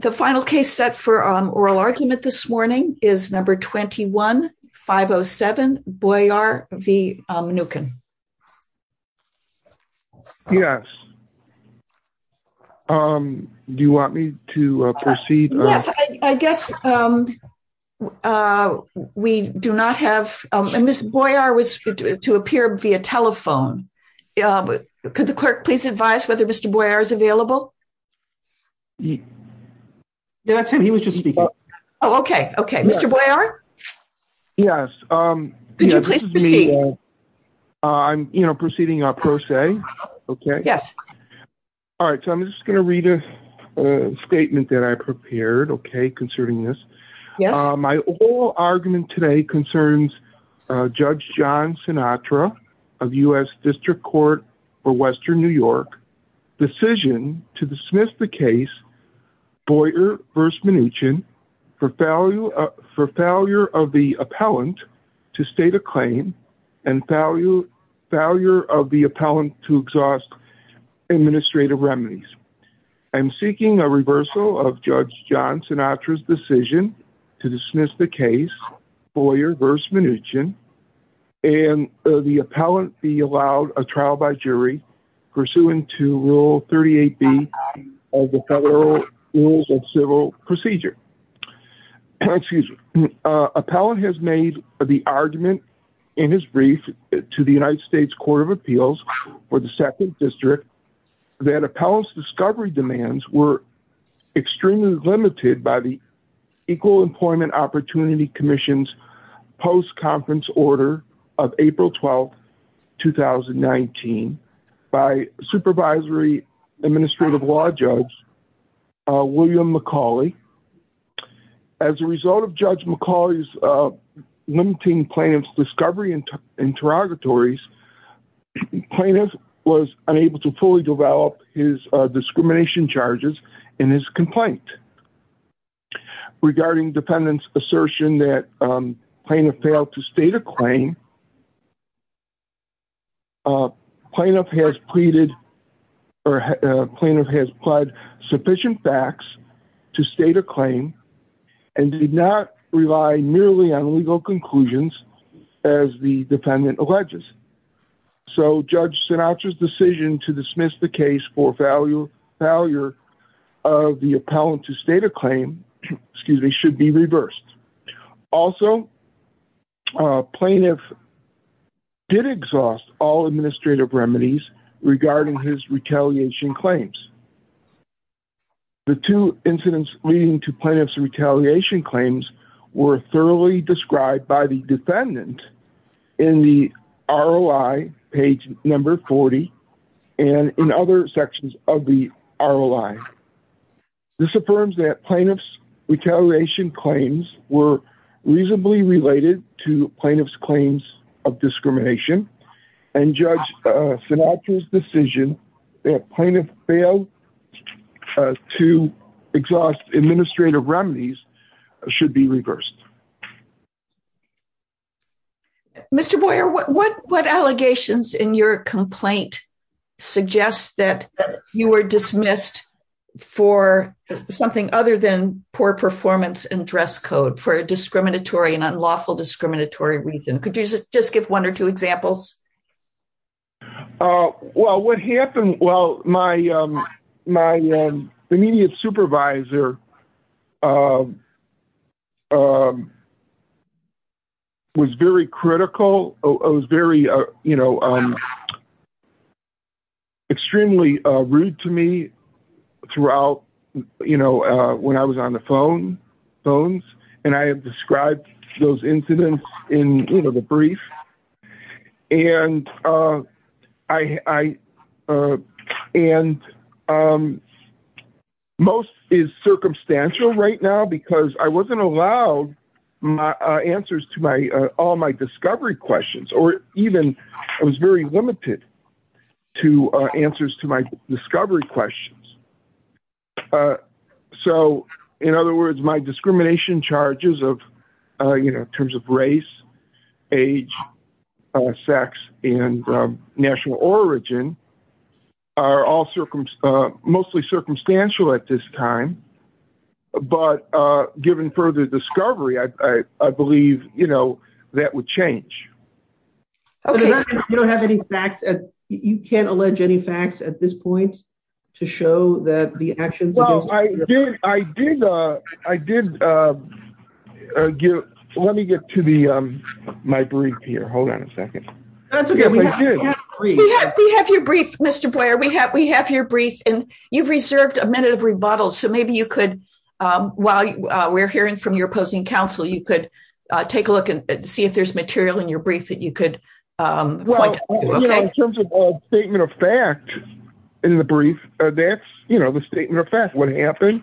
The final case set for oral argument this morning is number 21-507 Boyar v. Mnuchin. Yes, do you want me to proceed? Yes, I guess we do not have, and Mr. Boyar was to appear via telephone. Could the clerk please advise whether Mr. Boyar is available? Yeah, that's him. He was just speaking. Oh, okay. Okay. Mr. Boyar? Yes. Could you please proceed? I'm, you know, proceeding a pro se, okay? Yes. All right, so I'm just going to read a statement that I prepared, okay, concerning this. My oral argument today concerns Judge John Sinatra of U.S. District Court for Western New Decision to dismiss the case Boyar v. Mnuchin for failure of the appellant to state a claim and failure of the appellant to exhaust administrative remedies. I'm seeking a reversal of Judge John Sinatra's decision to dismiss the case Boyar v. Mnuchin and the Rule 38B of the Federal Rules of Civil Procedure. Appellant has made the argument in his brief to the United States Court of Appeals for the 2nd District that appellant's discovery demands were extremely limited by the Equal Employment Opportunity Commission's post-conference order of April 12, 2019, by Supervisory Administrative Law Judge William McCauley. As a result of Judge McCauley's limiting plaintiff's discovery and interrogatories, plaintiff was unable to fully develop his discrimination charges in his complaint. Regarding defendant's assertion that plaintiff failed to state a claim, plaintiff has pleaded or plaintiff has pled sufficient facts to state a claim and did not rely merely on legal conclusions as the defendant alleges. So Judge Sinatra's decision to dismiss the case for failure of the appellant to state a claim should be reversed. Also, plaintiff did exhaust all administrative remedies regarding his retaliation claims. The two incidents leading to plaintiff's retaliation claims were thoroughly described by the defendant in the ROI page number 40 and in other sections of the ROI. This affirms that plaintiff's retaliation claims were reasonably related to plaintiff's claims of discrimination and Judge Sinatra's decision that plaintiff failed to exhaust administrative remedies should be reversed. Mr. Boyer, what allegations in your complaint suggest that you were dismissed for something other than poor performance and dress code for a discriminatory and unlawful discriminatory reason? Could you just give one or two examples? Well, what happened, well, my immediate supervisor was very critical. It was very, you know, extremely rude to me throughout, you know, when I was on the phones and I have described those incidents in, you know, the brief and most is circumstantial right now because I wasn't allowed answers to all my discovery questions or even I was very limited to answers to my discovery questions. So, in other words, my discrimination charges of, you know, in terms of race, age, sex, and national origin are all mostly circumstantial at this time, but given further discovery, I believe, you know, that would change. Okay. You don't have any facts? You can't allege any facts at this point to show that the actions? Well, I did. Let me get to my brief here. Hold on a second. We have your brief, Mr. Boyer. We have your brief and you've reserved a minute of rebuttal, so maybe you could, while we're hearing from your opposing counsel, you could take a look and see if there's material in your brief that you could point to. Well, you know, in terms of all statement of fact in the brief, that's, you know, the statement of fact what happened.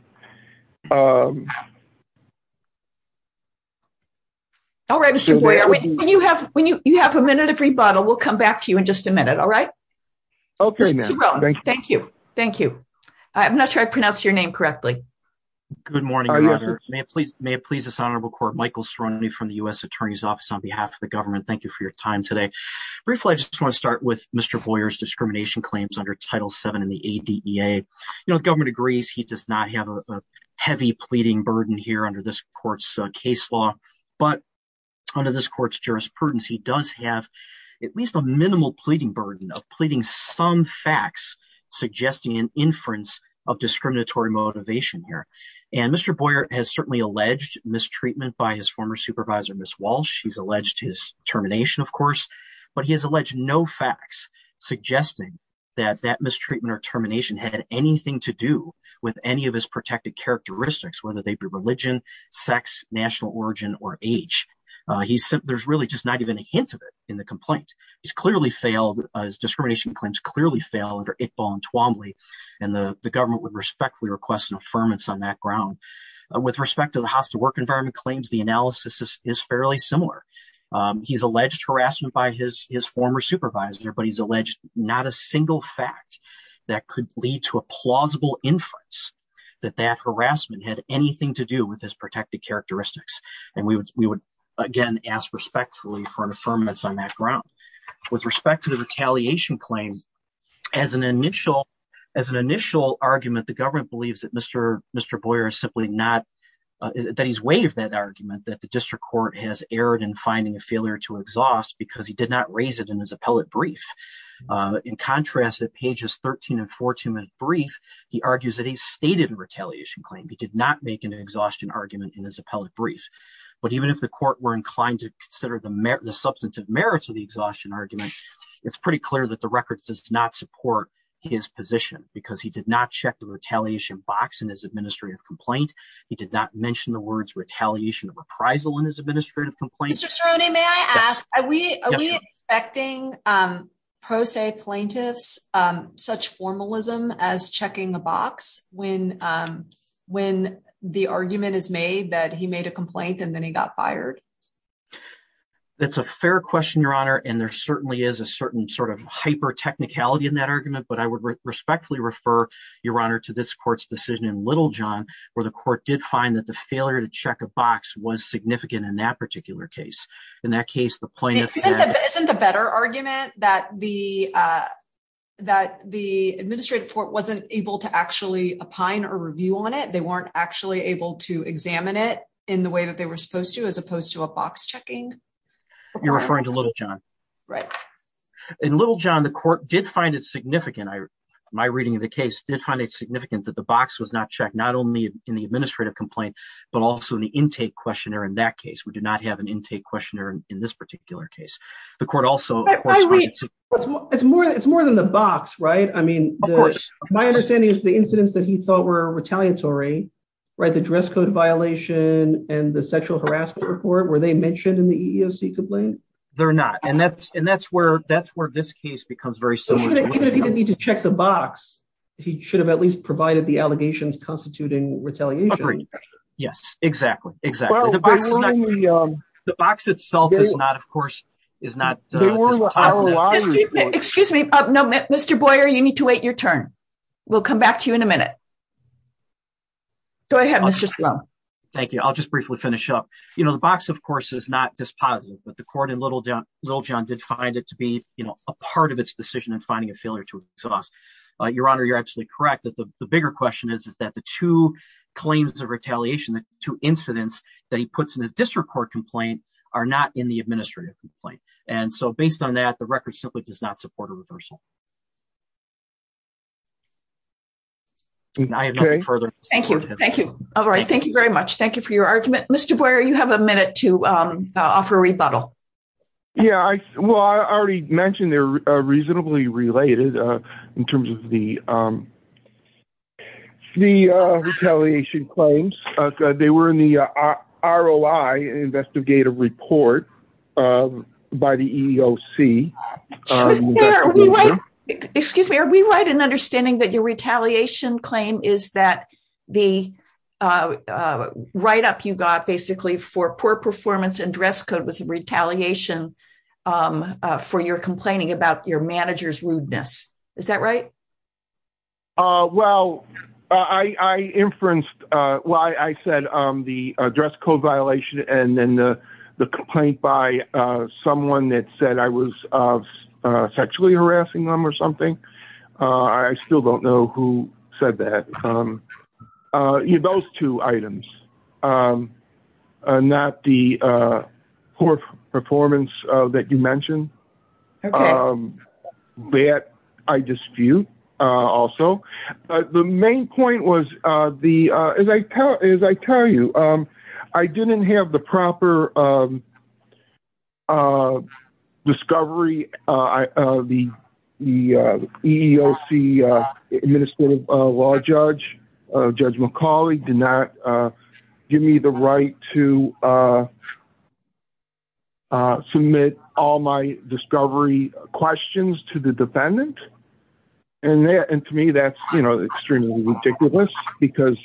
All right, Mr. Boyer, when you have a minute of rebuttal, we'll come back to you in just a minute. All right? Okay, ma'am. Thank you. Thank you. I'm not sure I pronounced your name correctly. Good morning. May it please this honorable Michael Ceroni from the U.S. Attorney's Office on behalf of the government. Thank you for your time today. Briefly, I just want to start with Mr. Boyer's discrimination claims under Title VII in the ADEA. You know, the government agrees he does not have a heavy pleading burden here under this court's case law, but under this court's jurisprudence, he does have at least a minimal pleading burden of pleading some facts suggesting an inference of discriminatory motivation here. And Mr. Boyer has certainly alleged mistreatment by his former supervisor, Ms. Walsh. He's alleged his termination, of course, but he has alleged no facts suggesting that that mistreatment or termination had anything to do with any of his protected characteristics, whether they be religion, sex, national origin, or age. There's really just not even a hint of it in the complaint. He's clearly failed, his discrimination claims clearly failed under Iqbal and Twombly, and the government would respectfully request an affirmance on that ground. With respect to the hostile work environment claims, the analysis is fairly similar. He's alleged harassment by his former supervisor, but he's alleged not a single fact that could lead to a plausible inference that that harassment had anything to do with his protected characteristics. And we would, again, ask respectfully for an affirmance on that ground. With respect to the retaliation claim, as an initial argument, the government believes that Mr. Boyer is simply not, that he's waived that argument, that the district court has erred in finding a failure to exhaust because he did not raise it in his appellate brief. In contrast, at pages 13 and 14 of the brief, he argues that he stated a retaliation claim. He did not make an exhaustion argument in his appellate brief. But even if the court were inclined to consider the substantive merits of the exhaustion argument, it's pretty clear that the record does not support his position because he did not check the retaliation box in his administrative complaint. He did not mention the words retaliation of appraisal in his administrative complaint. Mr. Cerrone, may I ask, are we expecting pro se plaintiffs such formalism as checking the box when the argument is made that he made a complaint and then he got fired? That's a fair question, Your Honor. And there certainly is a certain sort of hyper technicality in that argument. But I would respectfully refer, Your Honor, to this court's decision in Little John, where the court did find that the failure to check a box was significant in that particular case. In that case, the plaintiff- Isn't the better argument that the administrative court wasn't able to actually opine or review on it? They weren't actually able to examine it in the they were supposed to as opposed to a box checking? You're referring to Little John. Right. In Little John, the court did find it significant. My reading of the case did find it significant that the box was not checked, not only in the administrative complaint, but also in the intake questionnaire in that case. We do not have an intake questionnaire in this particular case. The court also- It's more than the box, right? I mean- Of course. My understanding is the incidents that he thought were retaliatory, right? The dress code violation and the sexual harassment report, were they mentioned in the EEOC complaint? They're not. And that's where this case becomes very similar to- Even if he didn't need to check the box, he should have at least provided the allegations constituting retaliation. Agreed. Yes. Exactly. Exactly. The box itself is not, of course, is not- Excuse me. Mr. Boyer, you need to wait your turn. We'll come back to you in a minute. Go ahead, Mr. Spadafore. Thank you. I'll just briefly finish up. The box, of course, is not dispositive, but the court in Little John did find it to be a part of its decision in finding a failure to exhaust. Your Honor, you're absolutely correct that the bigger question is that the two claims of retaliation, the two incidents that he puts in his district court complaint are not in the administrative complaint. And so based on that, the record simply does not Thank you very much. Thank you for your argument. Mr. Boyer, you have a minute to offer a rebuttal. Yeah. Well, I already mentioned they're reasonably related in terms of the retaliation claims. They were in the ROI investigative report by the EEOC. Mr. Boyer, are we right in understanding that your retaliation claim is that the write-up you got basically for poor performance and dress code was a retaliation for your complaining about your manager's rudeness. Is that right? Well, I inferenced why I said the dress code violation and then the complaint by someone that I was sexually harassing them or something. I still don't know who said that. Those two items not the poor performance that you mentioned that I dispute also. But the main point was as I tell you, I didn't have the proper discovery of the EEOC administrative law judge. Judge McCauley did not give me the right to submit all my discovery questions to the defendant. And to me, that's extremely ridiculous because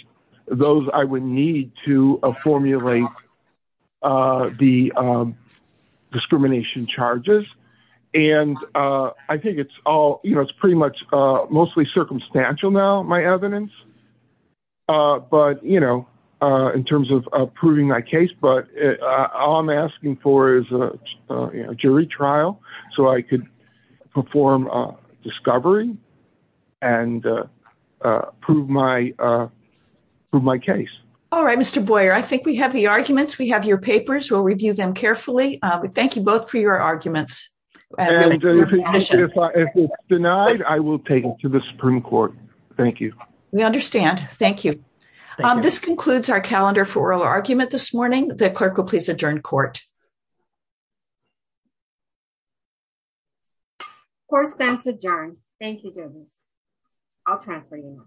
those I would need to formulate the discrimination charges. And I think it's pretty much mostly circumstantial now, my evidence, but in terms of proving my case. But all I'm asking for is a jury trial so I could perform discovery and prove my case. All right, Mr. Boyer, I think we have the arguments. We have your papers. We'll review them carefully. Thank you both for your arguments. If it's denied, I will take it to the Supreme Court. Thank you. We understand. Thank you. This concludes our calendar for oral argument this morning. The clerk will please adjourn court. Court is adjourned. Thank you. I'll transfer you. Thank you.